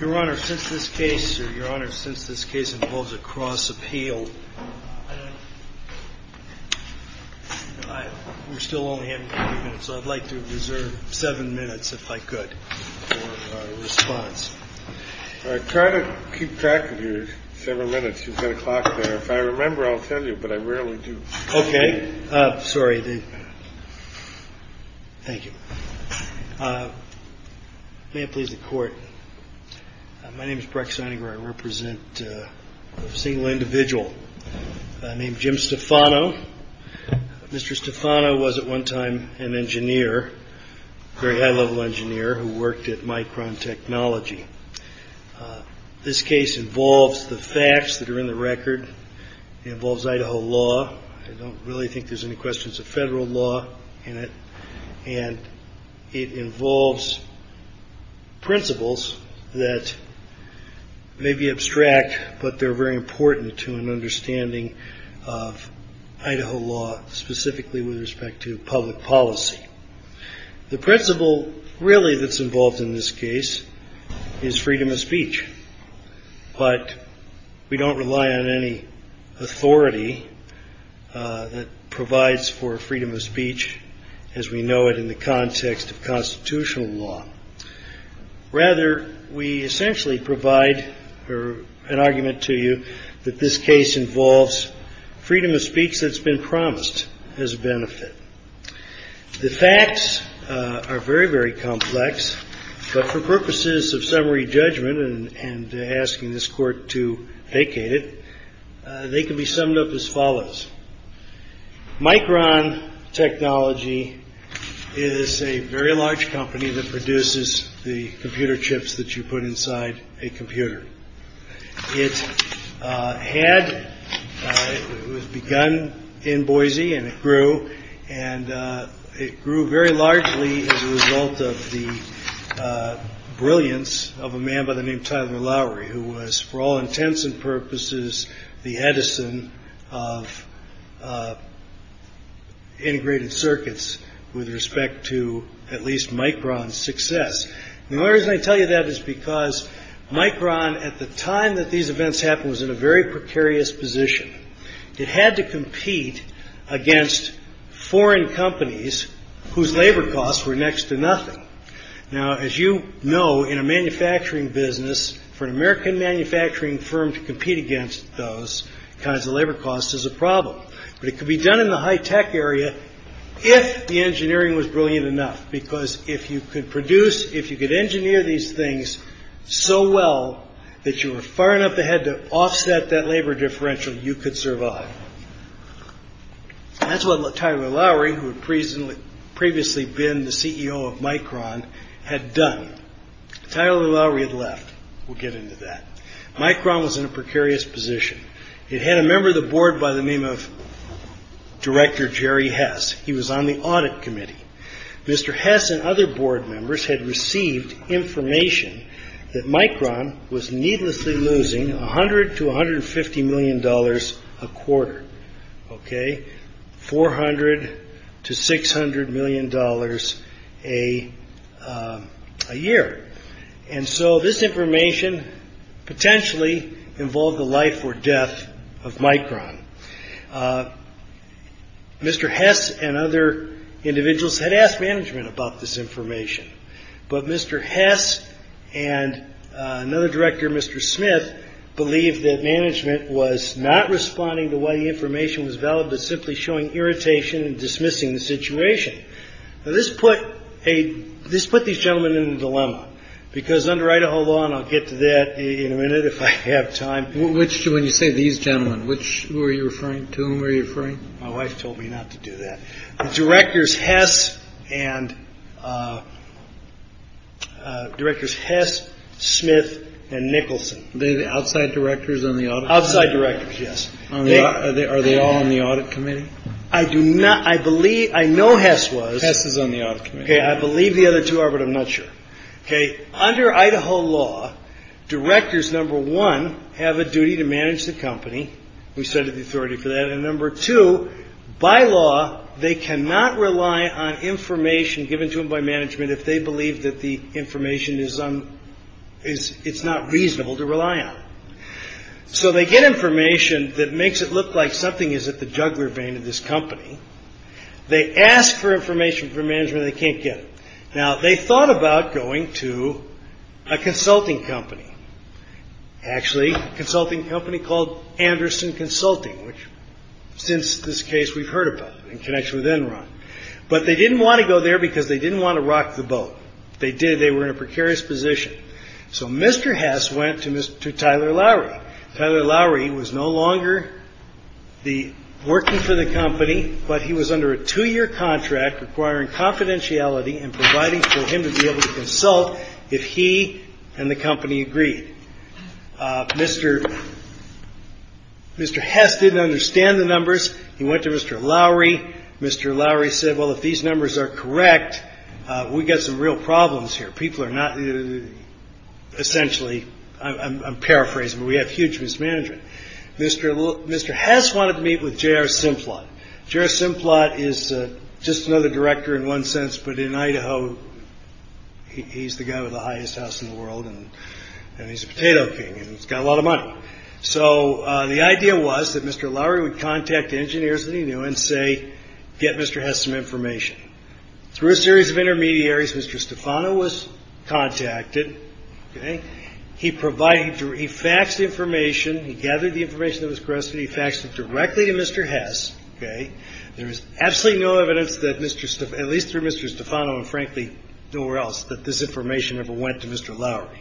Your Honor, since this case involves a cross-appeal, we're still only having a few minutes, so I'd like to reserve seven minutes, if I could, for a response. I try to keep track of your several minutes. You've got a clock there. If I remember, I'll tell you. But I rarely do. OK. Sorry. Thank you. May it please the court. My name is Breck signing where I represent a single individual named Jim Stefano. Mr. Stefano was at one time an engineer, very high-level engineer, who worked at Micron Technology. This case involves the facts that are in the record. It involves Idaho law. I don't really think there's any questions of federal law in it, and it involves principles that may be abstract, but they're very important to an understanding of Idaho law, specifically with respect to public policy. The principle really that's involved in this case is freedom of speech, but we don't rely on any authority that provides for freedom of speech as we know it in the context of constitutional law. Rather, we essentially provide an argument to you that this case involves freedom of speech that's been promised as a benefit. The facts are very, very complex, but for purposes of summary judgment and asking this court to vacate it, they can be summed up as follows. Micron Technology is a very large company that produces the computer chips that you put inside a computer. It had begun in Boise and it grew and it grew very largely as a result of the brilliance of a man by the name Tyler Lowry, who was for all intents and purposes the Edison of integrated circuits with respect to at least Micron's success. The only reason I tell you that is because Micron at the time that these events happened was in a very precarious position. It had to compete against foreign companies whose labor costs were next to nothing. Now, as you know, in a manufacturing business for an American manufacturing firm to compete against those kinds of labor costs is a problem. But it could be done in the high tech area if the engineering was brilliant enough, because if you could produce if you could engineer these things so well that you were far enough ahead to offset that labor differential, you could survive. That's what Tyler Lowry, who had previously been the CEO of Micron, had done. Tyler Lowry had left. We'll get into that. Micron was in a precarious position. It had a member of the board by the name of Director Jerry Hess. He was on the audit committee. Mr. Hess and other board members had received information that Micron was needlessly losing 100 to 150 million dollars a quarter. OK, 400 to 600 million dollars a year. And so this information potentially involved the life or death of Micron. Mr. Hess and other individuals had asked management about this information. But Mr. Hess and another director, Mr. Smith, believed that management was not responding to what the information was valid, but simply showing irritation and dismissing the situation. This put a this put these gentlemen in a dilemma because under Idaho law. And I'll get to that in a minute if I have time. Which do when you say these gentlemen, which were you referring to? My wife told me not to do that. Directors Hess and. Directors Hess, Smith and Nicholson, the outside directors on the outside directors. Yes. Are they all on the audit committee? I do not. I believe I know Hess was on the audit committee. I believe the other two are. But I'm not sure. OK. Under Idaho law, directors, number one, have a duty to manage the company. We said the authority for that. And number two, by law, they cannot rely on information given to them by management if they believe that the information is on is it's not reasonable to rely on. So they get information that makes it look like something is at the jugular vein of this company. They ask for information from management. They can't get it. Now, they thought about going to a consulting company. Actually, consulting company called Anderson Consulting, which since this case we've heard about in connection with Enron. But they didn't want to go there because they didn't want to rock the boat. They did. They were in a precarious position. So Mr. Hess went to Mr. Tyler Lowry. Tyler Lowry was no longer the working for the company, but he was under a two year contract requiring confidentiality and providing for him to be able to consult if he and the company agreed. Mr. Mr. Hess didn't understand the numbers. He went to Mr. Lowry. Mr. Lowry said, well, if these numbers are correct, we've got some real problems here. People are not essentially. I'm paraphrasing. We have huge mismanagement. Mr. Mr. Hess wanted to meet with J.R. Simplot. J.R. Simplot is just another director in one sense. But in Idaho, he's the guy with the highest house in the world and he's a potato king and he's got a lot of money. So the idea was that Mr. Lowry would contact engineers that he knew and say, get Mr. Hess some information. Through a series of intermediaries, Mr. Stefano was contacted. He provided, he faxed the information, he gathered the information that was corrected, he faxed it directly to Mr. Hess. There is absolutely no evidence that Mr. Stefano, at least through Mr. Stefano and frankly nowhere else, that this information ever went to Mr. Lowry.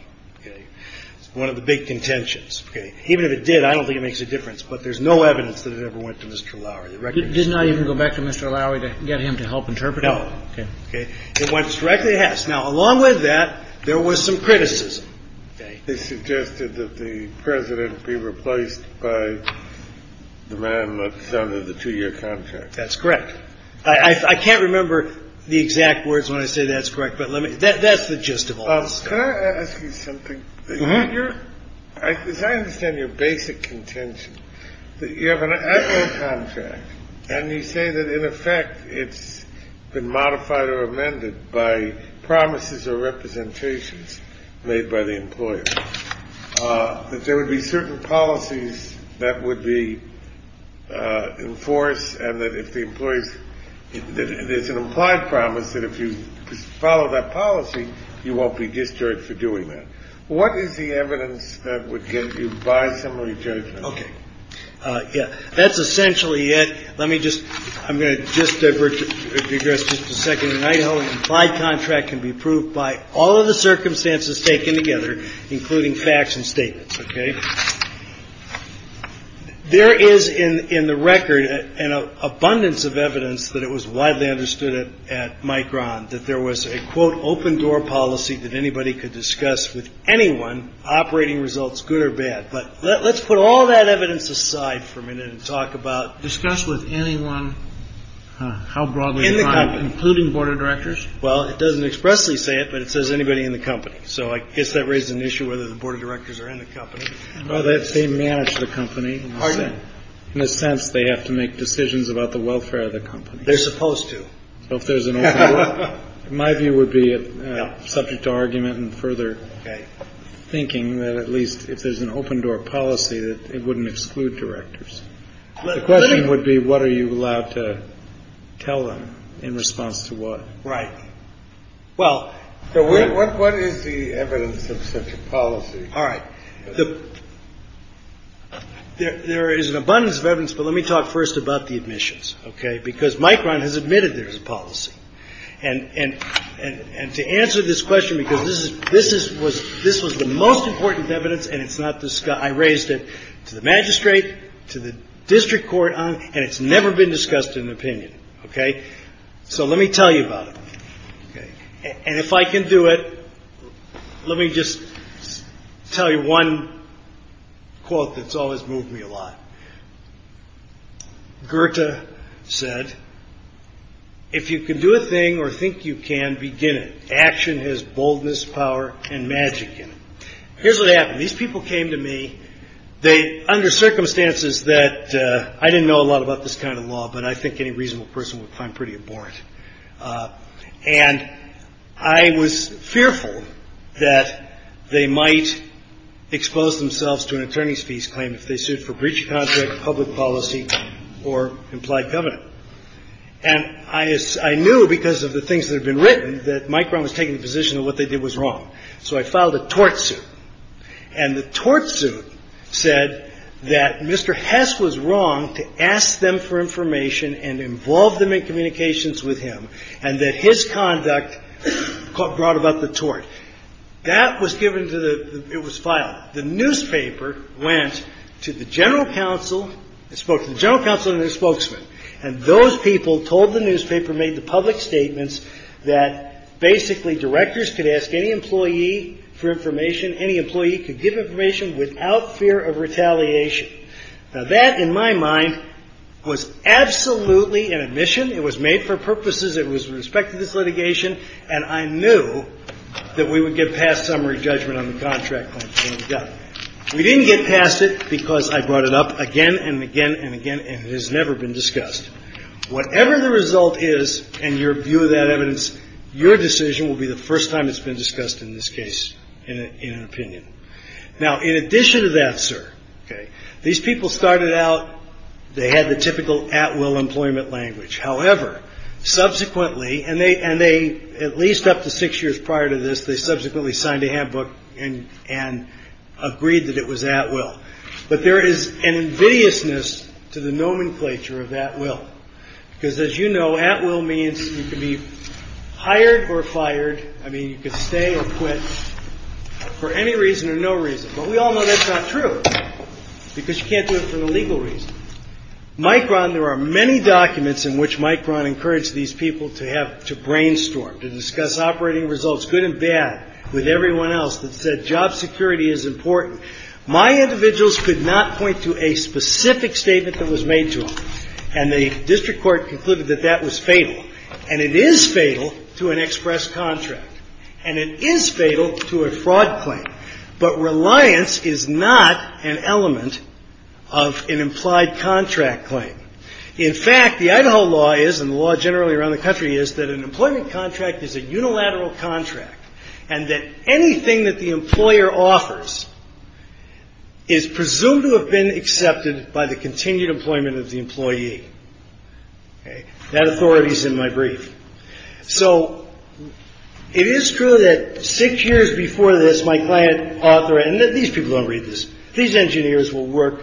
One of the big contentions. Even if it did, I don't think it makes a difference. But there's no evidence that it ever went to Mr. Lowry. Did it not even go back to Mr. Lowry to get him to help interpret it? No. It went directly to Hess. Now, along with that, there was some criticism. They suggested that the president be replaced by the man that's under the two year contract. That's correct. I can't remember the exact words when I say that's correct. But let me. That's the gist of all this. Can I ask you something? You're I understand your basic contention that you have an actual contract and you say that in effect it's been modified or amended by promises or representations made by the employer. That there would be certain policies that would be enforced. And that if the employees that there's an implied promise that if you follow that policy, you won't be discharged for doing that. What is the evidence that would get you by summary judgment? OK. Yeah, that's essentially it. Let me just I'm going to just digress just a second. Idaho implied contract can be approved by all of the circumstances taken together, including facts and statements. OK. There is in the record an abundance of evidence that it was widely understood at Micron that there was a, quote, an open door policy that anybody could discuss with anyone operating results, good or bad. But let's put all that evidence aside for a minute and talk about discuss with anyone how broadly including board of directors. Well, it doesn't expressly say it, but it says anybody in the company. So I guess that raises an issue whether the board of directors are in the company or that they manage the company. In a sense, they have to make decisions about the welfare of the company. They're supposed to. So if there's an open door, my view would be subject to argument and further thinking that at least if there's an open door policy, it wouldn't exclude directors. The question would be, what are you allowed to tell them in response to what? Right. Well, what is the evidence of such a policy? All right. There is an abundance of evidence, but let me talk first about the admissions. OK, because Micron has admitted there's a policy. And and and to answer this question, because this is this is was this was the most important evidence. And it's not this guy. I raised it to the magistrate, to the district court. And it's never been discussed in an opinion. OK, so let me tell you about it. And if I can do it, let me just tell you one quote that's always moved me a lot. Gerta said, if you can do a thing or think you can begin, action has boldness, power and magic. Here's what happened. These people came to me. They under circumstances that I didn't know a lot about this kind of law, but I think any reasonable person would find pretty abhorrent. And I was fearful that they might expose themselves to an attorney's fees claim if they sued for breach of contract, public policy or implied government. And I knew because of the things that have been written that Micron was taking the position of what they did was wrong. So I filed a tort suit and the tort suit said that Mr. Hess was wrong to ask them for information and involve them in communications with him and that his conduct brought about the tort. That was given to the it was filed. The newspaper went to the general counsel and spoke to the general counsel and the spokesman. And those people told the newspaper, made the public statements that basically directors could ask any employee for information. Any employee could give information without fear of retaliation. Now, that, in my mind, was absolutely an admission. It was made for purposes. It was with respect to this litigation. And I knew that we would get past summary judgment on the contract. Yeah, we didn't get past it because I brought it up again and again and again. And it has never been discussed. Whatever the result is, and your view of that evidence, your decision will be the first time it's been discussed in this case in an opinion. Now, in addition to that, sir, these people started out they had the typical at will employment language, however, subsequently and they and they at least up to six years prior to this. They subsequently signed a handbook and and agreed that it was at will. But there is an invidiousness to the nomenclature of that will, because, as you know, at will means you can be hired or fired. I mean, you can stay or quit for any reason or no reason. But we all know that's not true because you can't do it for the legal reason. Mike Brown, there are many documents in which Mike Brown encouraged these people to have to brainstorm, to discuss operating results, good and bad with everyone else that said job security is important. My individuals could not point to a specific statement that was made to them. And the district court concluded that that was fatal. And it is fatal to an express contract. And it is fatal to a fraud claim. But reliance is not an element of an implied contract claim. In fact, the Idaho law is and the law generally around the country is that an employment contract is a unilateral contract and that anything that the employer offers is presumed to have been accepted by the continued employment of the employee. That authority is in my brief. So it is true that six years before this, my client author and that these people don't read this. These engineers will work.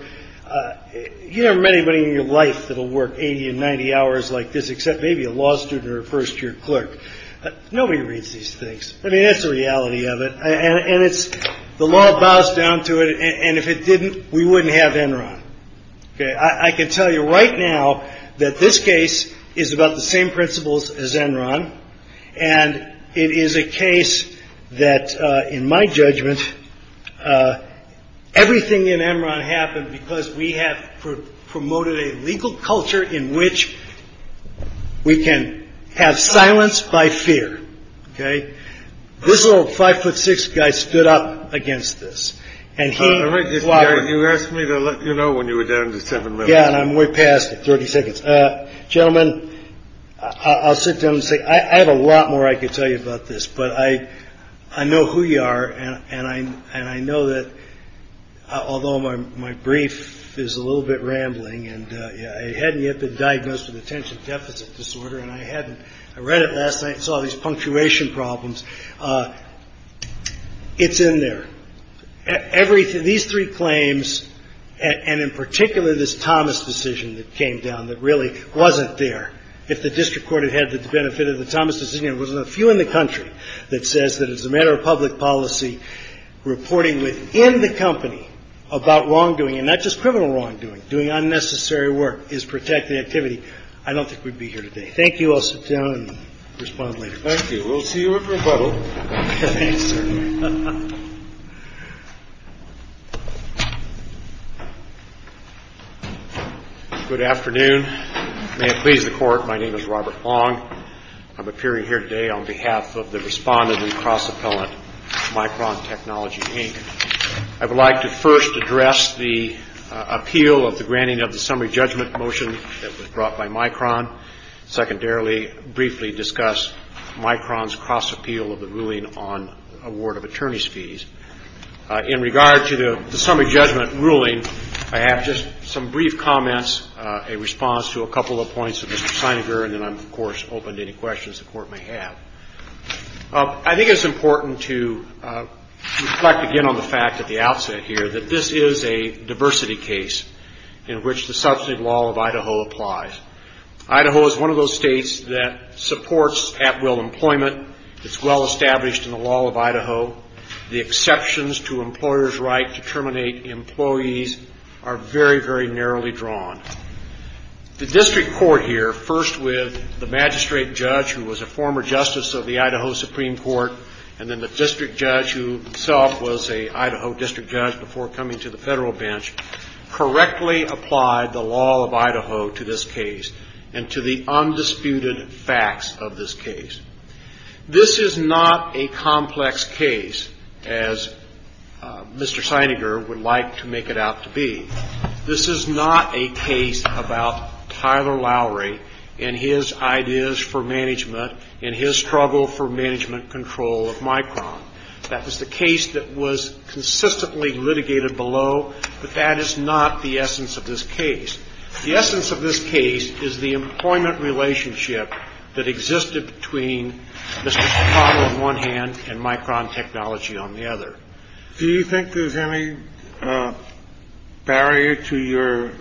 You know, many, many in your life that will work 80 and 90 hours like this, except maybe a law student or a first year clerk. Nobody reads these things. I mean, that's the reality of it. And it's the law bows down to it. And if it didn't, we wouldn't have Enron. OK, I can tell you right now that this case is about the same principles as Enron. And it is a case that in my judgment, everything in Enron happened because we have promoted a legal culture in which we can have silence by fear. OK, this little five foot six guy stood up against this. And he is why you asked me to let you know when you were down to seven. Yeah. And I'm way past 30 seconds. Gentlemen, I'll sit down and say I have a lot more I could tell you about this, but I I know who you are. And I and I know that although my my brief is a little bit rambling and I hadn't yet been diagnosed with attention deficit disorder and I hadn't. I read it last night, saw these punctuation problems. It's in there, everything, these three claims and in particular, this Thomas decision that came down that really wasn't there if the district court had had the benefit of the Thomas decision, it wasn't a few in the country that says that as a matter of public policy reporting within the company about wrongdoing and not just criminal wrongdoing, doing unnecessary work is protecting activity. I don't think we'd be here today. Thank you. I'll sit down and respond later. Thank you. We'll see you at rebuttal. Good afternoon. May it please the court. My name is Robert Long. I'm appearing here today on behalf of the respondent and cross-appellant Micron Technology, Inc. I would like to first address the appeal of the granting of the summary judgment motion that was brought by Micron. Secondarily, briefly discuss Micron's cross-appeal of the ruling on award of attorney's fees. In regard to the summary judgment ruling, I have just some brief comments, a response to a couple of points of Mr. Sininger and then I'm, of course, open to any questions the court may have. I think it's important to reflect again on the fact at the outset here that this is a diversity case in which the substantive law of Idaho applies. Idaho is one of those states that supports at-will employment. It's well-established in the law of Idaho. The exceptions to employer's right to terminate employees are very, very narrowly drawn. The district court here, first with the magistrate judge who was a former justice of the Idaho Supreme Court and then the district judge who himself was a Idaho district judge before coming to the federal bench, correctly applied the law of Idaho to this case and to the undisputed facts of this case. This is not a complex case, as Mr. Sininger would like to make it out to be. This is not a case about Tyler Lowry and his ideas for management and his struggle for management control of Micron. That was the case that was consistently litigated below, but that is not the essence of this case. The essence of this case is the employment relationship that existed between Mr. Chicago on one hand and Micron Technology on the other. Do you think there's any barrier to your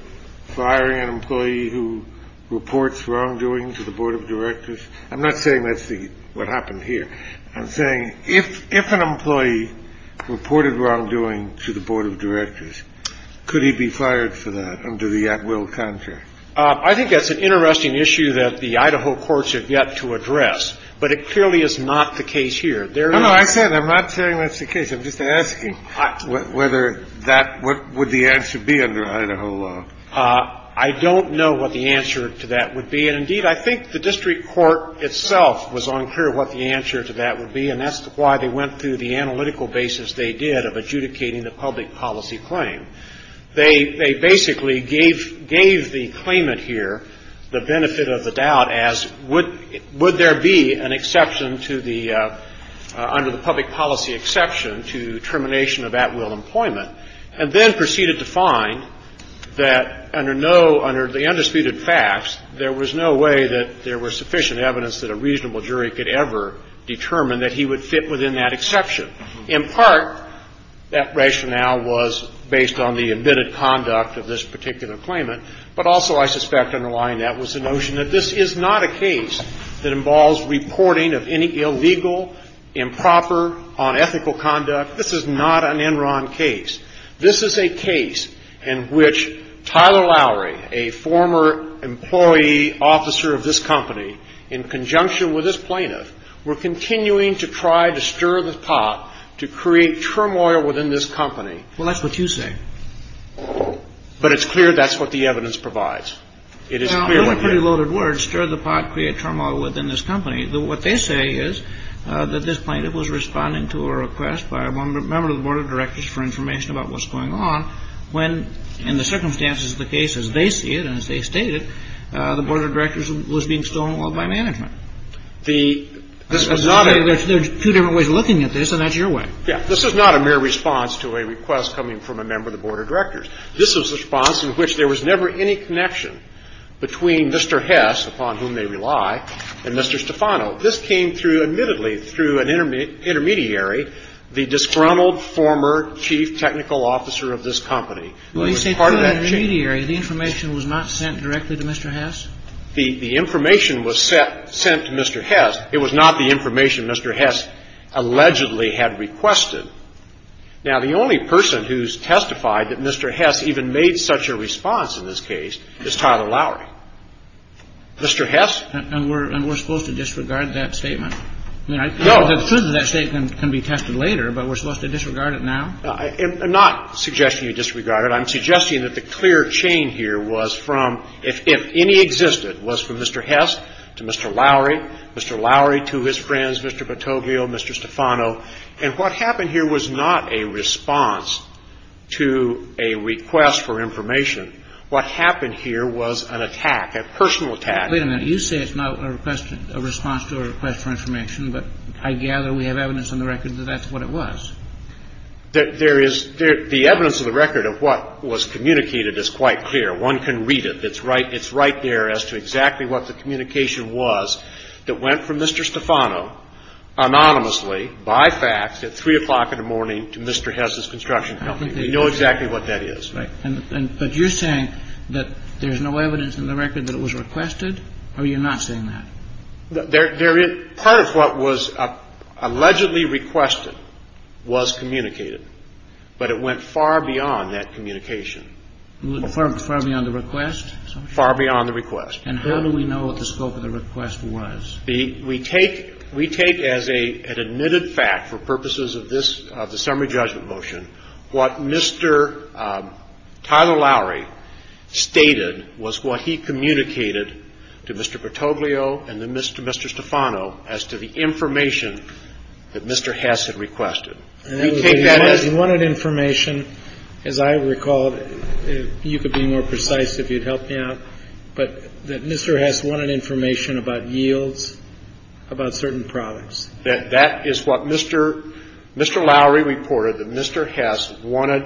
hiring an employee who reports wrongdoing to the board of directors? I'm not saying that's what happened here. I'm saying if if an employee reported wrongdoing to the board of directors, could he be fired for that under the at will contract? I think that's an interesting issue that the Idaho courts have yet to address, but it clearly is not the case here. There are no I said I'm not saying that's the case. I'm just asking whether that what would the answer be under Idaho law? I don't know what the answer to that would be. And indeed, I think the district court itself was unclear what the answer to that would be. And that's why they went through the analytical basis they did of adjudicating the public policy claim. They basically gave gave the claimant here the benefit of the doubt as would would there be an exception to the under the public policy exception to termination of at will employment? And then proceeded to find that under no under the undisputed facts, there was no way that there were sufficient evidence that a reasonable jury could ever determine that he would fit within that exception. In part, that rationale was based on the admitted conduct of this particular claimant, but also I suspect underlying that was the notion that this is not a case that involves reporting of any illegal, improper, unethical conduct. This is not an Enron case. This is a case in which Tyler Lowry, a former employee officer of this company, in conjunction with this plaintiff, were continuing to try to stir the pot to create turmoil within this company. Well, that's what you say. But it's clear that's what the evidence provides. It is a pretty loaded word, stir the pot, create turmoil within this company. What they say is that this plaintiff was responding to a request by one member of the board of directors for information about what's going on when in the circumstances of the case, as they see it and as they stated, the board of directors was being stolen by management. The this is not a there's two different ways of looking at this, and that's your way. Yeah, this is not a mere response to a request coming from a member of the board of directors. This was a response in which there was never any connection between Mr. Hess, upon whom they rely, and Mr. Stefano. This came through, admittedly, through an intermediary, the disgruntled former chief technical officer of this company. Well, you say intermediary, the information was not sent directly to Mr. Hess? The information was sent to Mr. Hess. It was not the information Mr. Hess allegedly had requested. Now, the only person who's testified that Mr. Hess even made such a response in this case is Tyler Lowry. Mr. Hess? And we're supposed to disregard that statement? No. The truth of that statement can be tested later, but we're supposed to disregard it now? I'm not suggesting you disregard it. I'm suggesting that the clear chain here was from, if any existed, was from Mr. Hess to Mr. Lowry, Mr. Lowry to his friends, Mr. Patoglio, Mr. Stefano. And what happened here was not a response to a request for information. What happened here was an attack, a personal attack. Wait a minute. You say it's not a response to a request for information, but I gather we have evidence on the record that that's what it was. There is – the evidence on the record of what was communicated is quite clear. One can read it. It's right – it's right there as to exactly what the communication was that went from Mr. Stefano anonymously by fax at 3 o'clock in the morning to Mr. Hess' construction company. We know exactly what that is. Right. And – but you're saying that there's no evidence in the record that it was requested, or you're not saying that? There – part of what was allegedly requested was communicated, but it went far beyond that communication. Far beyond the request? Far beyond the request. And how do we know what the scope of the request was? The – we take – we take as a – an admitted fact for purposes of this – of the summary judgment motion, what Mr. Tyler Lowry stated was what he communicated to Mr. Patoglio and then Mr. – Mr. Stefano as to the information that Mr. Hess had requested. You take that as – He wanted information, as I recall – you could be more precise if you'd help me out – but that Mr. Hess wanted information about yields, about certain products. That – that is what Mr. – Mr. Lowry reported, that Mr. Hess wanted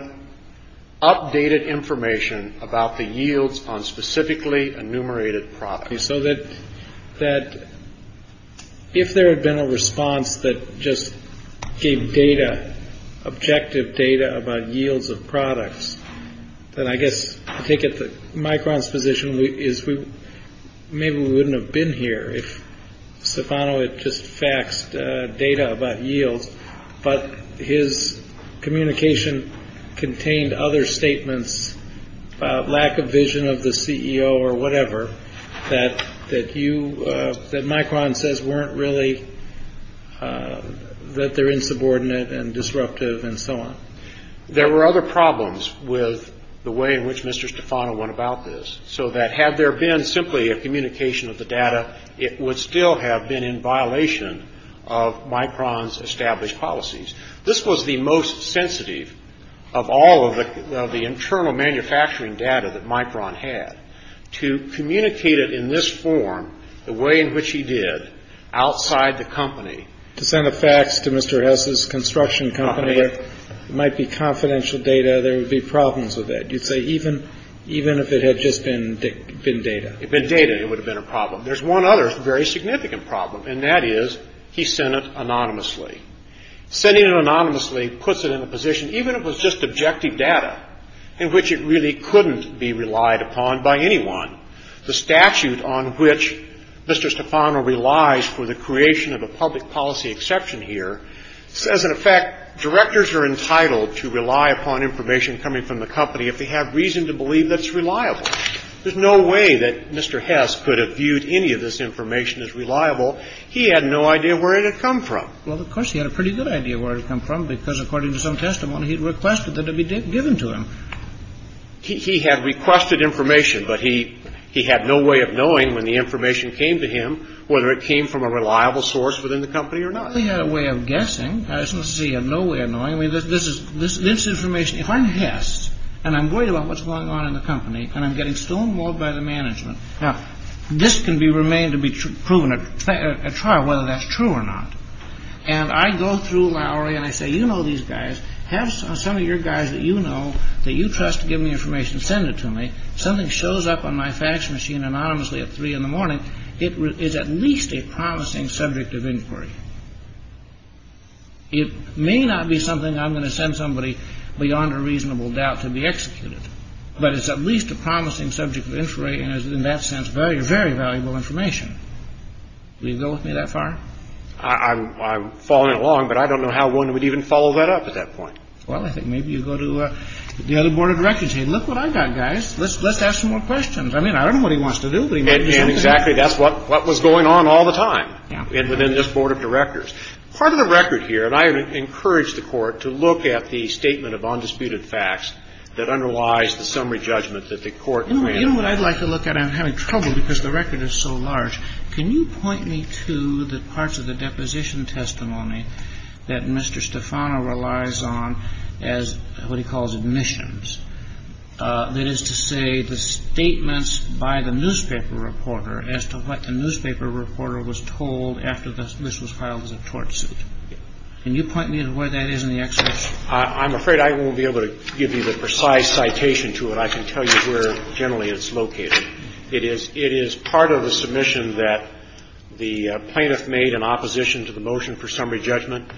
updated information about the yields on specifically enumerated products. So that – that if there had been a response that just gave data, objective data about yields of products, then I guess I take it that Micron's position is we – maybe we wouldn't have been here if Stefano had just faxed data about yields, but his communication contained other statements, lack of vision of the CEO or whatever, that – that you – that Micron says weren't really – that they're insubordinate and disruptive and so on. There were other problems with the way in which Mr. Stefano went about this, so that had there been simply a communication of the data, it would still have been in violation of Micron's established policies. This was the most sensitive of all of the – of the internal manufacturing data that Micron had, to communicate it in this form, the way in which he did, outside the company. To send a fax to Mr. Hess's construction company, it might be confidential data, there would be problems with that. You'd say even – even if it had just been – been data. If it had been data, it would have been a problem. There's one other very significant problem, and that is he sent it anonymously. Sending it anonymously puts it in a position, even if it was just objective data, in which it really couldn't be relied upon by anyone. The statute on which Mr. Stefano relies for the creation of a public policy exception here says, in effect, directors are entitled to rely upon information coming from the company if they have reason to believe that it's reliable. There's no way that Mr. Hess could have viewed any of this information as reliable. He had no idea where it had come from. Well, of course, he had a pretty good idea where it had come from, because according to some testimony, he had requested that it be given to him. He – he had requested information, but he – he had no way of knowing when the information came to him whether it came from a reliable source within the company or not. He had a way of guessing. I mean, this is – this information, if I'm Hess and I'm worried about what's going on in the company and I'm getting stonewalled by the management, now, this can be remained to be proven at trial, whether that's true or not. And I go through Lowry and I say, you know these guys, have some of your guys that you know, that you trust, give me information, send it to me. Something shows up on my fax machine anonymously at 3 in the morning, it is at least a promising subject of inquiry. It may not be something I'm going to send somebody beyond a reasonable doubt to be executed, but it's at least a promising subject of inquiry and is in that sense very, very valuable information. Will you go with me that far? I'm – I'm following along, but I don't know how one would even follow that up at that point. Well, I think maybe you go to the other board of directors and say, look what I got, guys, let's – let's ask some more questions. I mean, I don't know what he wants to do, but he might do something. And exactly, that's what – what was going on all the time within this board of directors. Part of the record here, and I would encourage the court to look at the statement of undisputed facts that underlies the summary judgment that the court granted. You know what I'd like to look at? I'm having trouble because the record is so large. Can you point me to the parts of the deposition testimony that Mr. Stefano relies on as what he calls admissions? That is to say, the statements by the newspaper reporter as to what the newspaper reporter was told after this was filed as a tort suit. Can you point me to where that is in the excerpts? I'm afraid I won't be able to give you the precise citation to it. I can tell you where generally it's located. It is – it is part of a submission that the plaintiff made in opposition to the motion for summary judgment,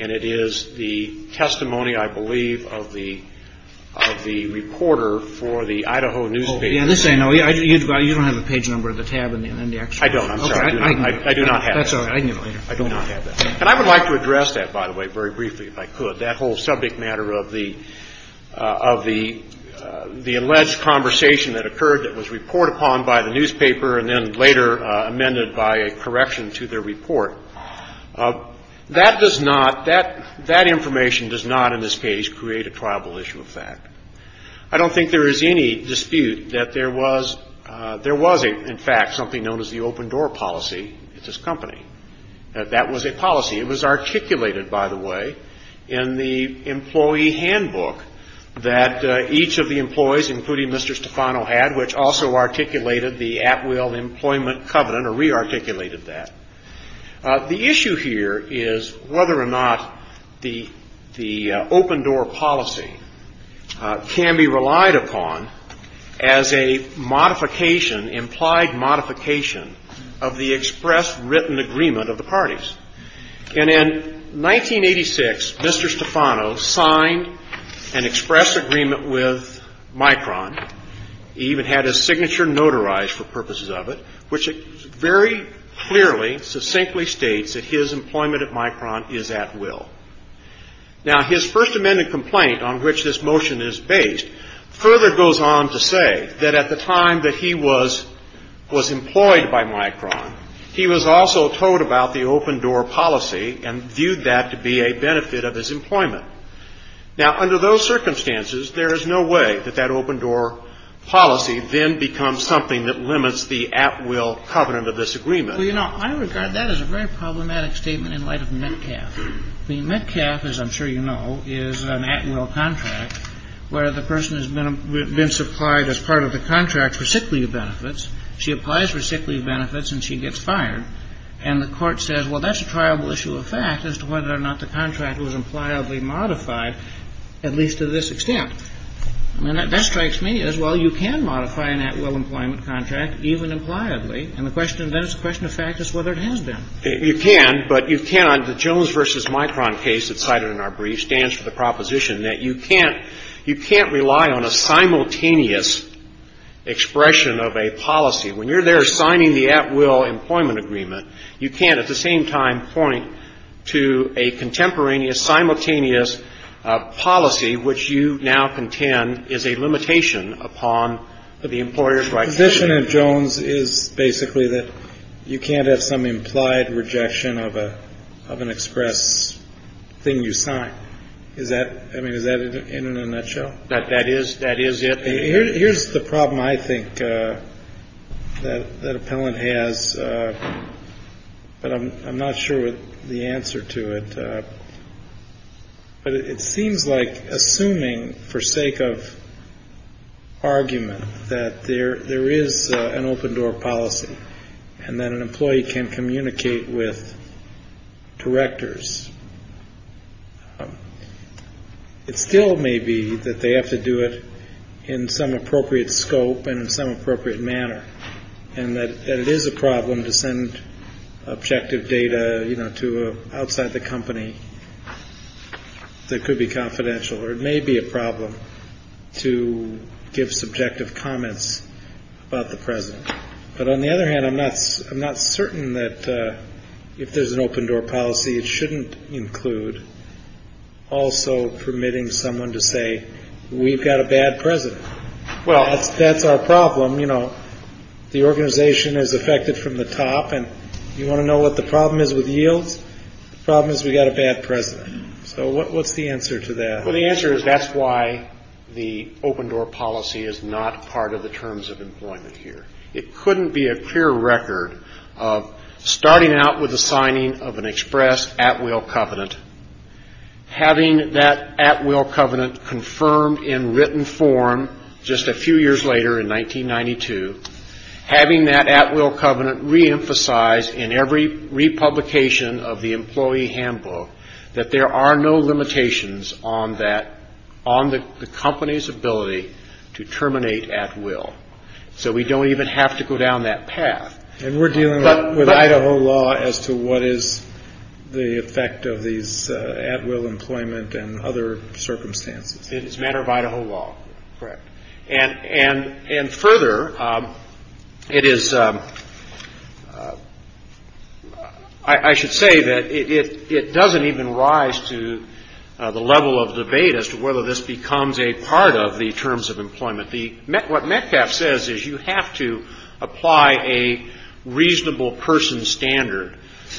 and it is the testimony, I believe, of the – of the reporter for the Idaho newspaper. Oh, yeah, this I know. You don't have a page number of the tab in the excerpt. I don't. I'm sorry. I do not have that. That's all right. I can give it later. I do not have that. And I would like to address that, by the way, very briefly if I could, that whole subject matter of the – of the alleged conversation that occurred that was report upon by the newspaper and then later amended by a correction to their report. That does not – that information does not, in this case, create a triable issue of fact. I don't think there is any dispute that there was – there was, in fact, something known as the open door policy at this company, that that was a policy. It was articulated, by the way, in the employee handbook that each of the employees, including Mr. Stefano, had, which also articulated the at-will employment covenant or re-articulated that. The issue here is whether or not the open door policy can be relied upon as a modification, implied modification, of the express written agreement of the parties. And in 1986, Mr. Stefano signed an express agreement with Micron. He even had his signature notarized for purposes of it, which very clearly, succinctly states that his employment at Micron is at will. Now, his First Amendment complaint on which this motion is based further goes on to say that at the time that he was – was employed by Micron, he was also told about the open door policy and viewed that to be a benefit of his employment. Now, under those circumstances, there is no way that that open door policy then becomes something that limits the at-will covenant of this agreement. Well, you know, I regard that as a very problematic statement in light of Metcalf. The Metcalf, as I'm sure you know, is an at-will contract where the person has been supplied as part of the contract for sick leave benefits. She applies for sick leave benefits and she gets fired. And the Court says, well, that's a triable issue of fact as to whether or not the contract was impliedly modified, at least to this extent. And that strikes me as, well, you can modify an at-will employment contract even impliedly, and the question then is the question of fact is whether it has been. You can, but you cannot. The Jones v. Micron case that's cited in our brief stands for the proposition that you can't – you can't rely on a simultaneous expression of a policy. When you're there signing the at-will employment agreement, you can't at the same time point to a contemporaneous, simultaneous policy, which you now contend is a limitation upon the employer's rights. The position of Jones is basically that you can't have some implied rejection of a – of an express thing you sign. Is that – I mean, is that in a nutshell? That is – that is it. Here's the problem I think that appellant has, but I'm not sure the answer to it. But it seems like assuming for sake of argument that there is an open-door policy and that an employee can communicate with directors, it still may be that they have to do it in some appropriate scope and in some appropriate manner, and that it is a problem to send objective data, you know, to outside the company that could be confidential, or it may be a problem to give subjective comments about the president. But on the other hand, I'm not – I'm not certain that if there's an open-door policy, it shouldn't include also permitting someone to say, we've got a bad president. Well, that's our problem. You know, the organization is affected from the top, and you want to know what the problem is with yields? The problem is we've got a bad president. So what's the answer to that? Well, the answer is that's why the open-door policy is not part of the terms of employment here. It couldn't be a clear record of starting out with the signing of an express at-will covenant, having that at-will covenant confirmed in written form just a few years later in 1992, having that at-will covenant reemphasized in every republication of the employee handbook that there are no limitations on that – on the company's ability to terminate at-will. So we don't even have to go down that path. And we're dealing with Idaho law as to what is the effect of these at-will employment and other circumstances. It's a matter of Idaho law. Correct. And further, it is – I should say that it doesn't even rise to the level of debate as to whether this becomes a part of the terms of employment. What METCAP says is you have to apply a reasonable person standard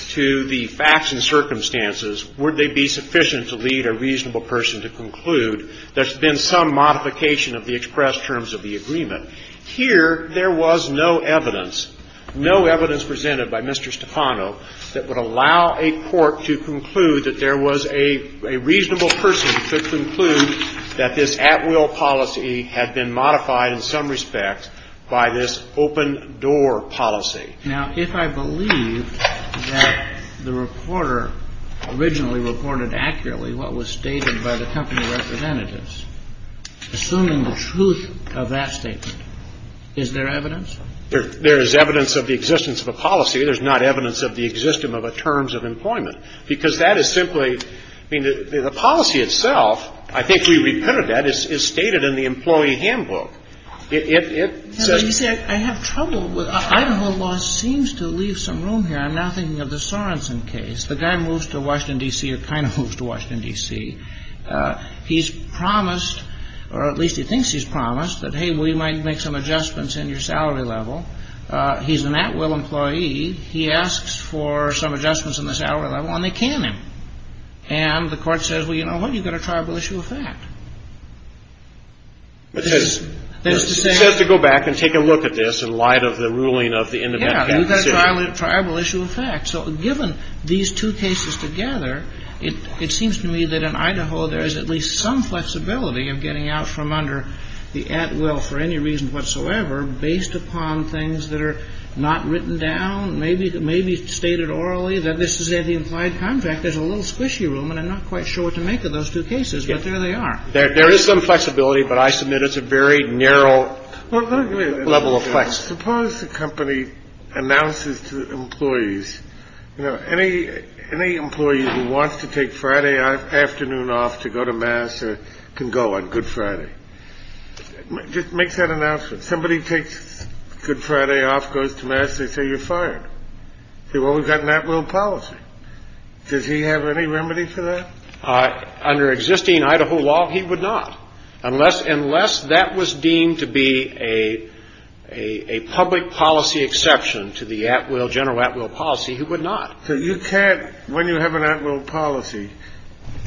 to the facts and circumstances. Would they be sufficient to lead a reasonable person to conclude there's been some modification of the express terms of the agreement? Here, there was no evidence – no evidence presented by Mr. Stefano that would allow a court to conclude that there was a reasonable person who could conclude that this at-will policy had been modified in some respects by this open-door policy. Now, if I believe that the reporter originally reported accurately what was stated by the company representatives, assuming the truth of that statement, is there evidence? There is evidence of the existence of a policy. There's not evidence of the existence of a terms of employment, because that is simply – I mean, the policy itself, I think we reprinted that, is stated in the employee handbook. It says – But you say, I have trouble with – Idaho law seems to leave some room here. I'm now thinking of the Sorenson case. The guy moves to Washington, D.C. or kind of moves to Washington, D.C. He's promised – or at least he thinks he's promised – that, hey, we might make some adjustments in your salary level. He's an at-will employee. He asks for some adjustments in the salary level, and they can him. And the court says, well, you know what? You've got a tribal issue of fact. It says to go back and take a look at this in light of the ruling of the independent – Yeah, you've got a tribal issue of fact. So given these two cases together, it seems to me that in Idaho there is at least some flexibility of getting out from under the at-will for any reason whatsoever based upon things that are not written down, maybe stated orally, that this is the implied contract. There's a little squishy room, and I'm not quite sure what to make of those two cases, but there they are. There is some flexibility, but I submit it's a very narrow level of flexibility. Suppose the company announces to employees, you know, any employee who wants to take Friday afternoon off to go to mass can go on Good Friday. Just make that announcement. Somebody takes Good Friday off, goes to mass, they say you're fired. They say, well, we've got an at-will policy. Does he have any remedy for that? Under existing Idaho law, he would not. Unless that was deemed to be a public policy exception to the at-will, general at-will policy, he would not. So you can't – when you have an at-will policy,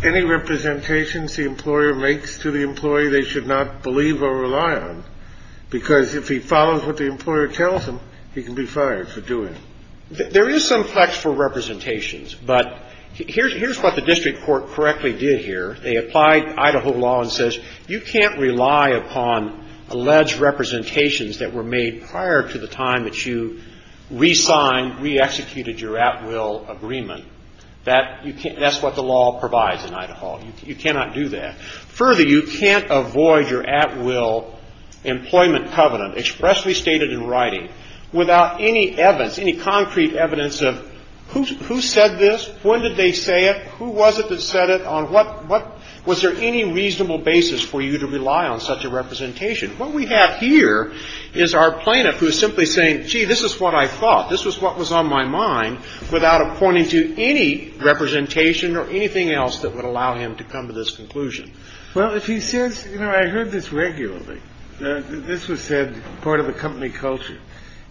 any representations the employer makes to the employee they should not believe or rely on, because if he follows what the employer tells him, he can be fired for doing it. There is some flex for representations, but here's what the district court correctly did here. They applied Idaho law and says you can't rely upon alleged representations that were made prior to the time that you re-signed, re-executed your at-will agreement. That's what the law provides in Idaho. You cannot do that. Further, you can't avoid your at-will employment covenant expressly stated in writing without any evidence, any concrete evidence of who said this, when did they say it, who was it that said it, on what – was there any reasonable basis for you to rely on such a representation? What we have here is our plaintiff who is simply saying, gee, this is what I thought, this is what was on my mind, without pointing to any representation or anything else that would allow him to come to this conclusion. Well, if he says, you know, I heard this regularly, this was said part of a company culture,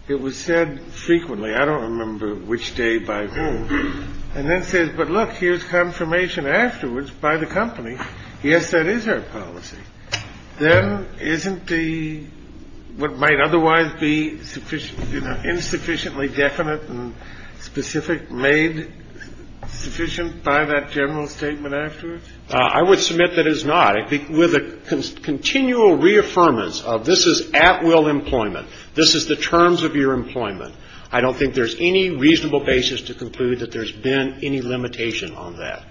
it was said frequently, I don't remember which day by whom, and then says, but look, here's confirmation afterwards by the company, yes, that is our policy, then isn't the – what might otherwise be insufficiently definite and specific made sufficient by that general statement afterwards? I would submit that it is not. With a continual reaffirmance of this is at-will employment, this is the terms of your employment, I don't think there's any reasonable basis to conclude that there's been any limitation on that.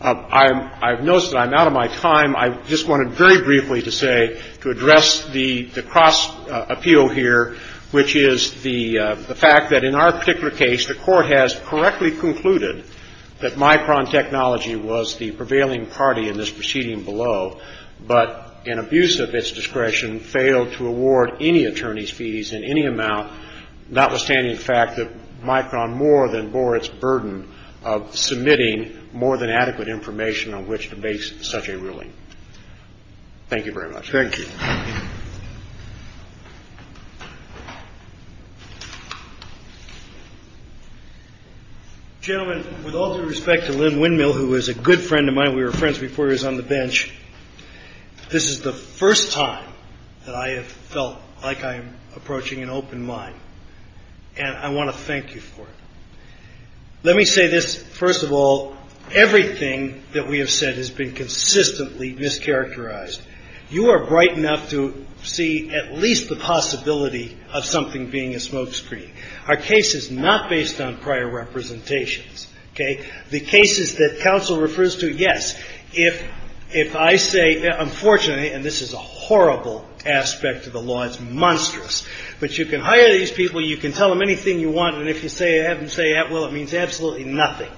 I've noticed that I'm out of my time. I just wanted very briefly to say, to address the cross-appeal here, which is the fact that in our particular case, the Court has correctly concluded that Micron Technology was the prevailing party in this proceeding below, but in abuse of its discretion, failed to award any attorney's fees in any amount, notwithstanding the fact that Micron more than bore its burden of submitting more than adequate information on which to base such a ruling. Thank you very much. Thank you. Gentlemen, with all due respect to Lynn Windmill, who is a good friend of mine, we were friends before he was on the bench, this is the first time that I have felt like I am approaching an open mind, and I want to thank you for it. Let me say this, first of all, everything that we have said has been consistently mischaracterized. You are bright enough to see at least the possibility of something being a smokescreen. Our case is not based on prior representations. Okay? The cases that counsel refers to, yes, if I say, unfortunately, and this is a horrible aspect of the law, it's monstrous, but you can hire these people, you can tell them anything you want, and if you have them say, well, it means absolutely nothing.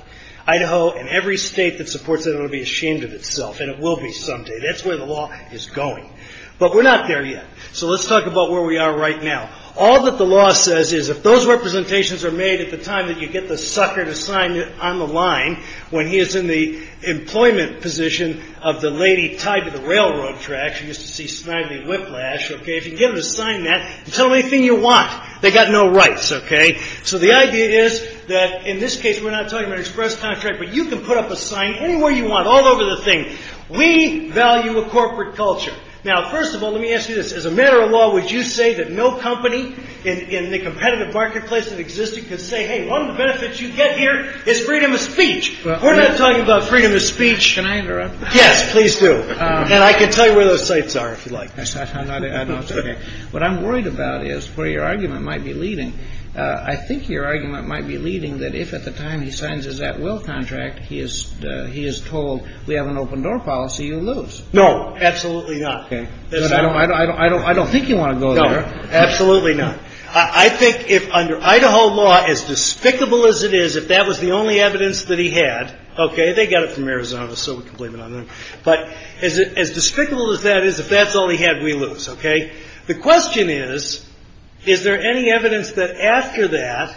Idaho and every state that supports it will be ashamed of itself, and it will be someday. That's where the law is going. But we're not there yet. So let's talk about where we are right now. All that the law says is if those representations are made at the time that you get the sucker to sign it on the line, when he is in the employment position of the lady tied to the railroad tracks, you used to see snidely whiplash, okay, if you get them to sign that, tell them anything you want. They got no rights, okay? So the idea is that in this case, we're not talking about an express contract, but you can put up a sign anywhere you want, all over the thing. We value a corporate culture. Now, first of all, let me ask you this. As a matter of law, would you say that no company in the competitive marketplace that existed could say, hey, one of the benefits you get here is freedom of speech? We're not talking about freedom of speech. Can I interrupt? Yes, please do. And I can tell you where those sites are if you like. What I'm worried about is where your argument might be leading. I think your argument might be leading that if at the time he signs his at-will contract, he is told we have an open-door policy, you lose. No, absolutely not. Okay. But I don't think you want to go there. No, absolutely not. I think if under Idaho law, as despicable as it is, if that was the only evidence that he had, okay, they got it from Arizona, so we can blame it on them. But as despicable as that is, if that's all he had, we lose, okay? The question is, is there any evidence that after that,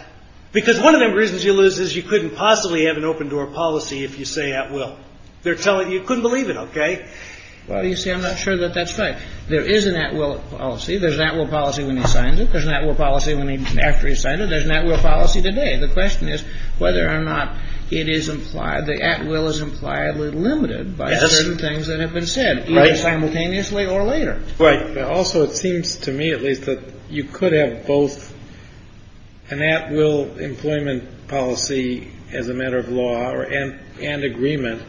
because one of the reasons you couldn't possibly have an open-door policy if you say at-will, you couldn't believe it, okay? Well, you see, I'm not sure that that's right. There is an at-will policy. There's an at-will policy when he signs it. There's an at-will policy after he signed it. There's an at-will policy today. The question is whether or not it is implied, the at-will is impliedly limited by certain things that have been said simultaneously or later. Right. Also, it seems to me at least that you could have both an at-will employment policy as a matter of law and agreement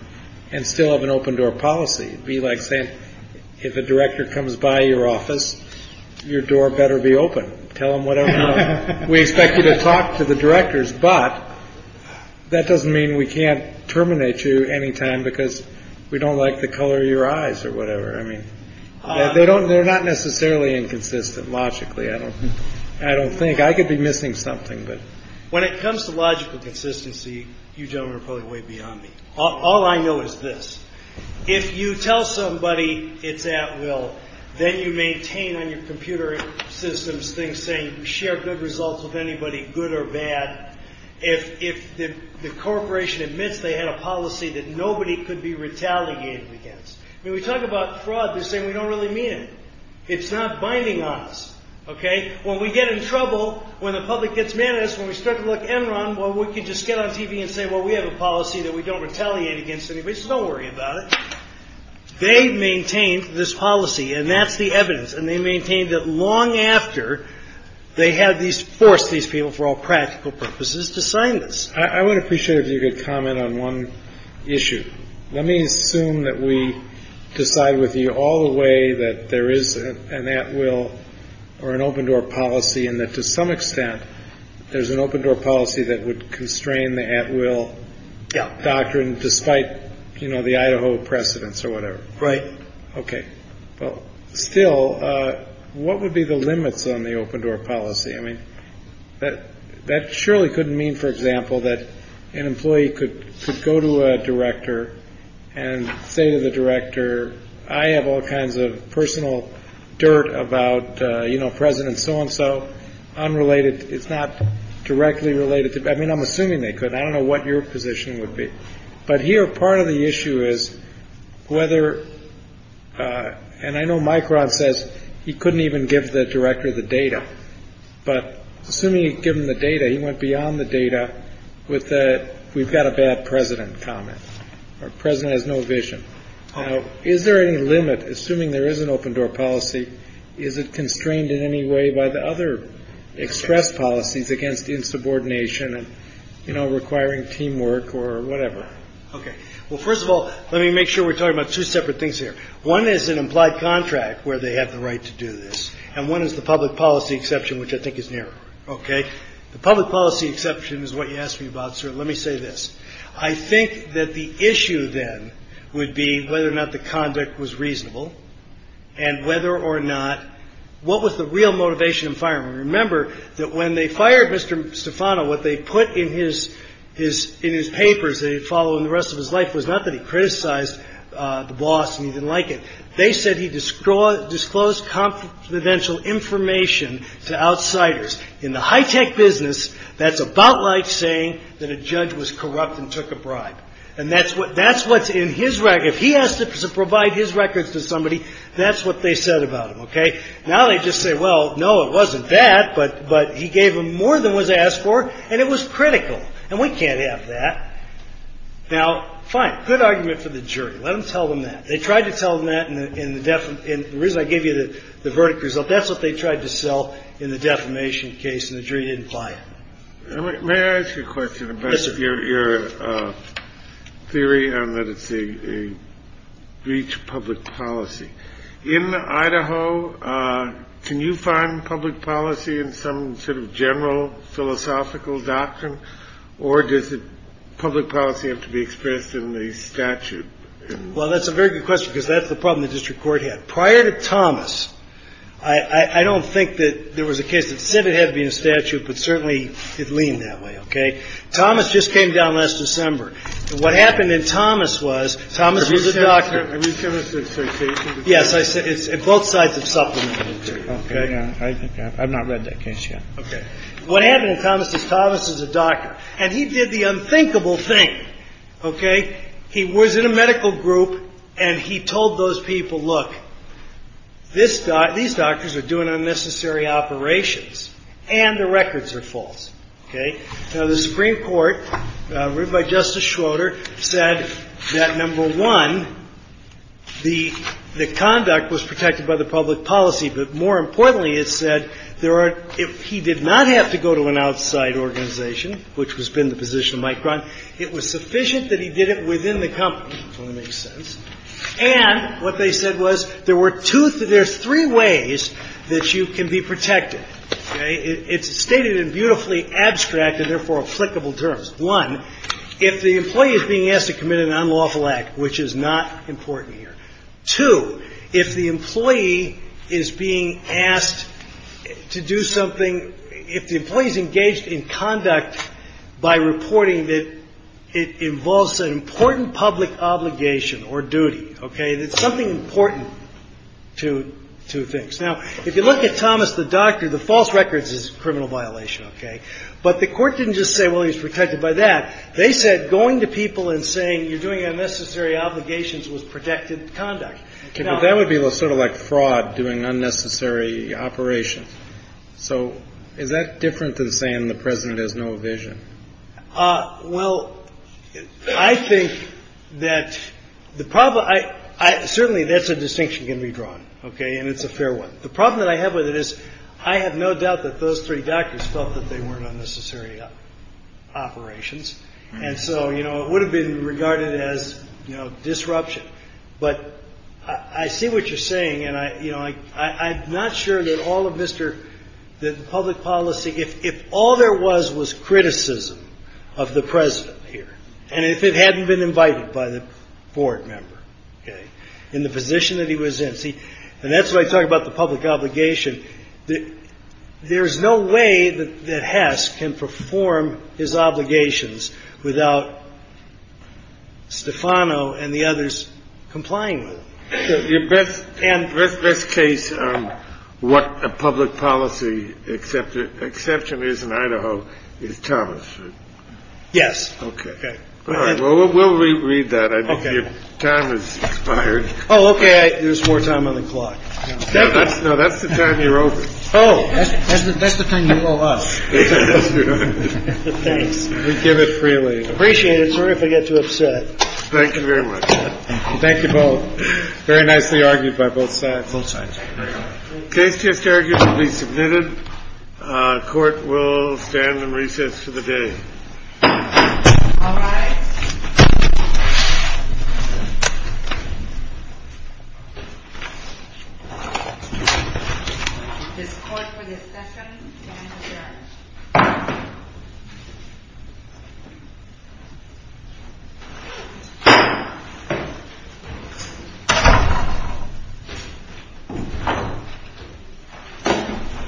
and still have an open-door policy. It would be like saying, if a director comes by your office, your door better be open. Tell them whatever you want. We expect you to talk to the directors, but that doesn't mean we can't terminate you anytime because we don't like the color of your eyes or whatever. I mean, they're not necessarily inconsistent logically. I don't think. I could be missing something. But when it comes to logical consistency, you gentlemen are probably way beyond me. All I know is this. If you tell somebody it's at-will, then you maintain on your computer systems things saying share good results with anybody, good or bad. If the corporation admits they had a policy that nobody could be retaliated against. I mean, we talk about fraud. They're saying we don't really mean it. It's not binding on us. OK. When we get in trouble, when the public gets mad at us, when we start to look Enron, well, we could just get on TV and say, well, we have a policy that we don't retaliate against anybody. So don't worry about it. They've maintained this policy. And that's the evidence. And they maintained that long after they had forced these people for all practical purposes to sign this. I would appreciate if you could comment on one issue. Let me assume that we decide with you all the way that there is an at-will or an open door policy and that to some extent there's an open door policy that would constrain the at-will doctrine despite, you know, the Idaho precedents or whatever. Right. OK. Well, still, what would be the limits on the open door policy? I mean, that surely couldn't mean, for example, that an employee could go to a director and say to the director, I have all kinds of personal dirt about, you know, President so-and-so unrelated. It's not directly related to. I mean, I'm assuming they could. I don't know what your position would be. But here, part of the issue is whether and I know Micron says he couldn't even give the director the data, but assuming given the data, he went beyond the data with that. We've got a bad president comment. Our president has no vision. Now, is there any limit? Assuming there is an open door policy, is it constrained in any way by the other express policies against insubordination and, you know, requiring teamwork or whatever? OK. Well, first of all, let me make sure we're talking about two separate things here. One is an implied contract where they have the right to do this. And one is the public policy exception, which I think is nearer. OK. The public policy exception is what you asked me about, sir. Let me say this. I think that the issue then would be whether or not the conduct was reasonable and whether or not what was the real motivation of firing? Remember that when they fired Mr. Stefano, what they put in his papers that he'd follow in the rest of his life was not that he criticized the boss and he didn't like it. They said he disclosed confidential information to outsiders. In the high-tech business, that's about like saying that a judge was corrupt and took a bribe. And that's what's in his record. If he has to provide his records to somebody, that's what they said about him. OK. Now they just say, well, no, it wasn't that, but he gave them more than was asked for, and it was critical. And we can't have that. Now, fine. Good argument for the jury. Let them tell them that. They tried to tell them that in the reason I gave you the verdict result. That's what they tried to sell in the defamation case, and the jury didn't buy it. May I ask you a question about your theory on that it's a breach of public policy? In Idaho, can you find public policy in some sort of general philosophical doctrine, or does public policy have to be expressed in the statute? Well, that's a very good question, because that's the problem the district court had. Prior to Thomas, I don't think that there was a case that said it had to be in a statute, but certainly it leaned that way. OK. Thomas just came down last December. What happened in Thomas was, Thomas was a doctor. Are you a chemistry association? Yes. I said it's both sides of supplementary material. OK. I think I've not read that case yet. OK. What happened in Thomas is Thomas is a doctor, and he did the unthinkable thing. OK. He was in a medical group, and he told those people, look, these doctors are doing unnecessary operations, and the records are false. OK. Now, the Supreme Court, written by Justice Schroeder, said that, number one, the conduct was protected by the public policy. But more importantly, it said he did not have to go to an outside organization, which has been the position of Mike Brown. It was sufficient that he did it within the company, if that makes sense. And what they said was there were two, there's three ways that you can be protected. OK. It's stated in beautifully abstract and therefore applicable terms. One, if the employee is being asked to commit an unlawful act, which is not important here. Two, if the employee is being asked to do something, if the employee is engaged in conduct by reporting that it involves an important public obligation or duty. OK. There's something important to two things. Now, if you look at Thomas, the doctor, the false records is a criminal violation. OK. But the court didn't just say, well, he's protected by that. They said going to people and saying you're doing unnecessary obligations was protected conduct. OK. But that would be sort of like fraud doing unnecessary operations. So is that different than saying the president has no vision? Well, I think that the problem I certainly that's a distinction can be drawn. OK. And it's a fair one. The problem that I have with it is I have no doubt that those three doctors felt that they weren't unnecessary operations. And so, you know, it would have been regarded as disruption. But I see what you're saying. And, you know, I'm not sure that all of Mr. the public policy, if all there was, was criticism of the president here and if it hadn't been invited by the board member in the position that he was in. See, and that's why I talk about the public obligation. There is no way that Hess can perform his obligations without Stefano and the others complying with it. And with this case, what a public policy except the exception is in Idaho is Thomas. Yes. OK. All right. Well, we'll read that. I think your time is expired. Oh, OK. There's more time on the clock. No, that's the time you're over. Oh, that's the time you owe us. Thanks. We give it freely. Appreciate it. Sorry if I get too upset. Thank you very much. Thank you both. Very nicely argued by both sides. Both sides. Case just argued to be submitted. Court will stand and recess for the day. All right. Thank you.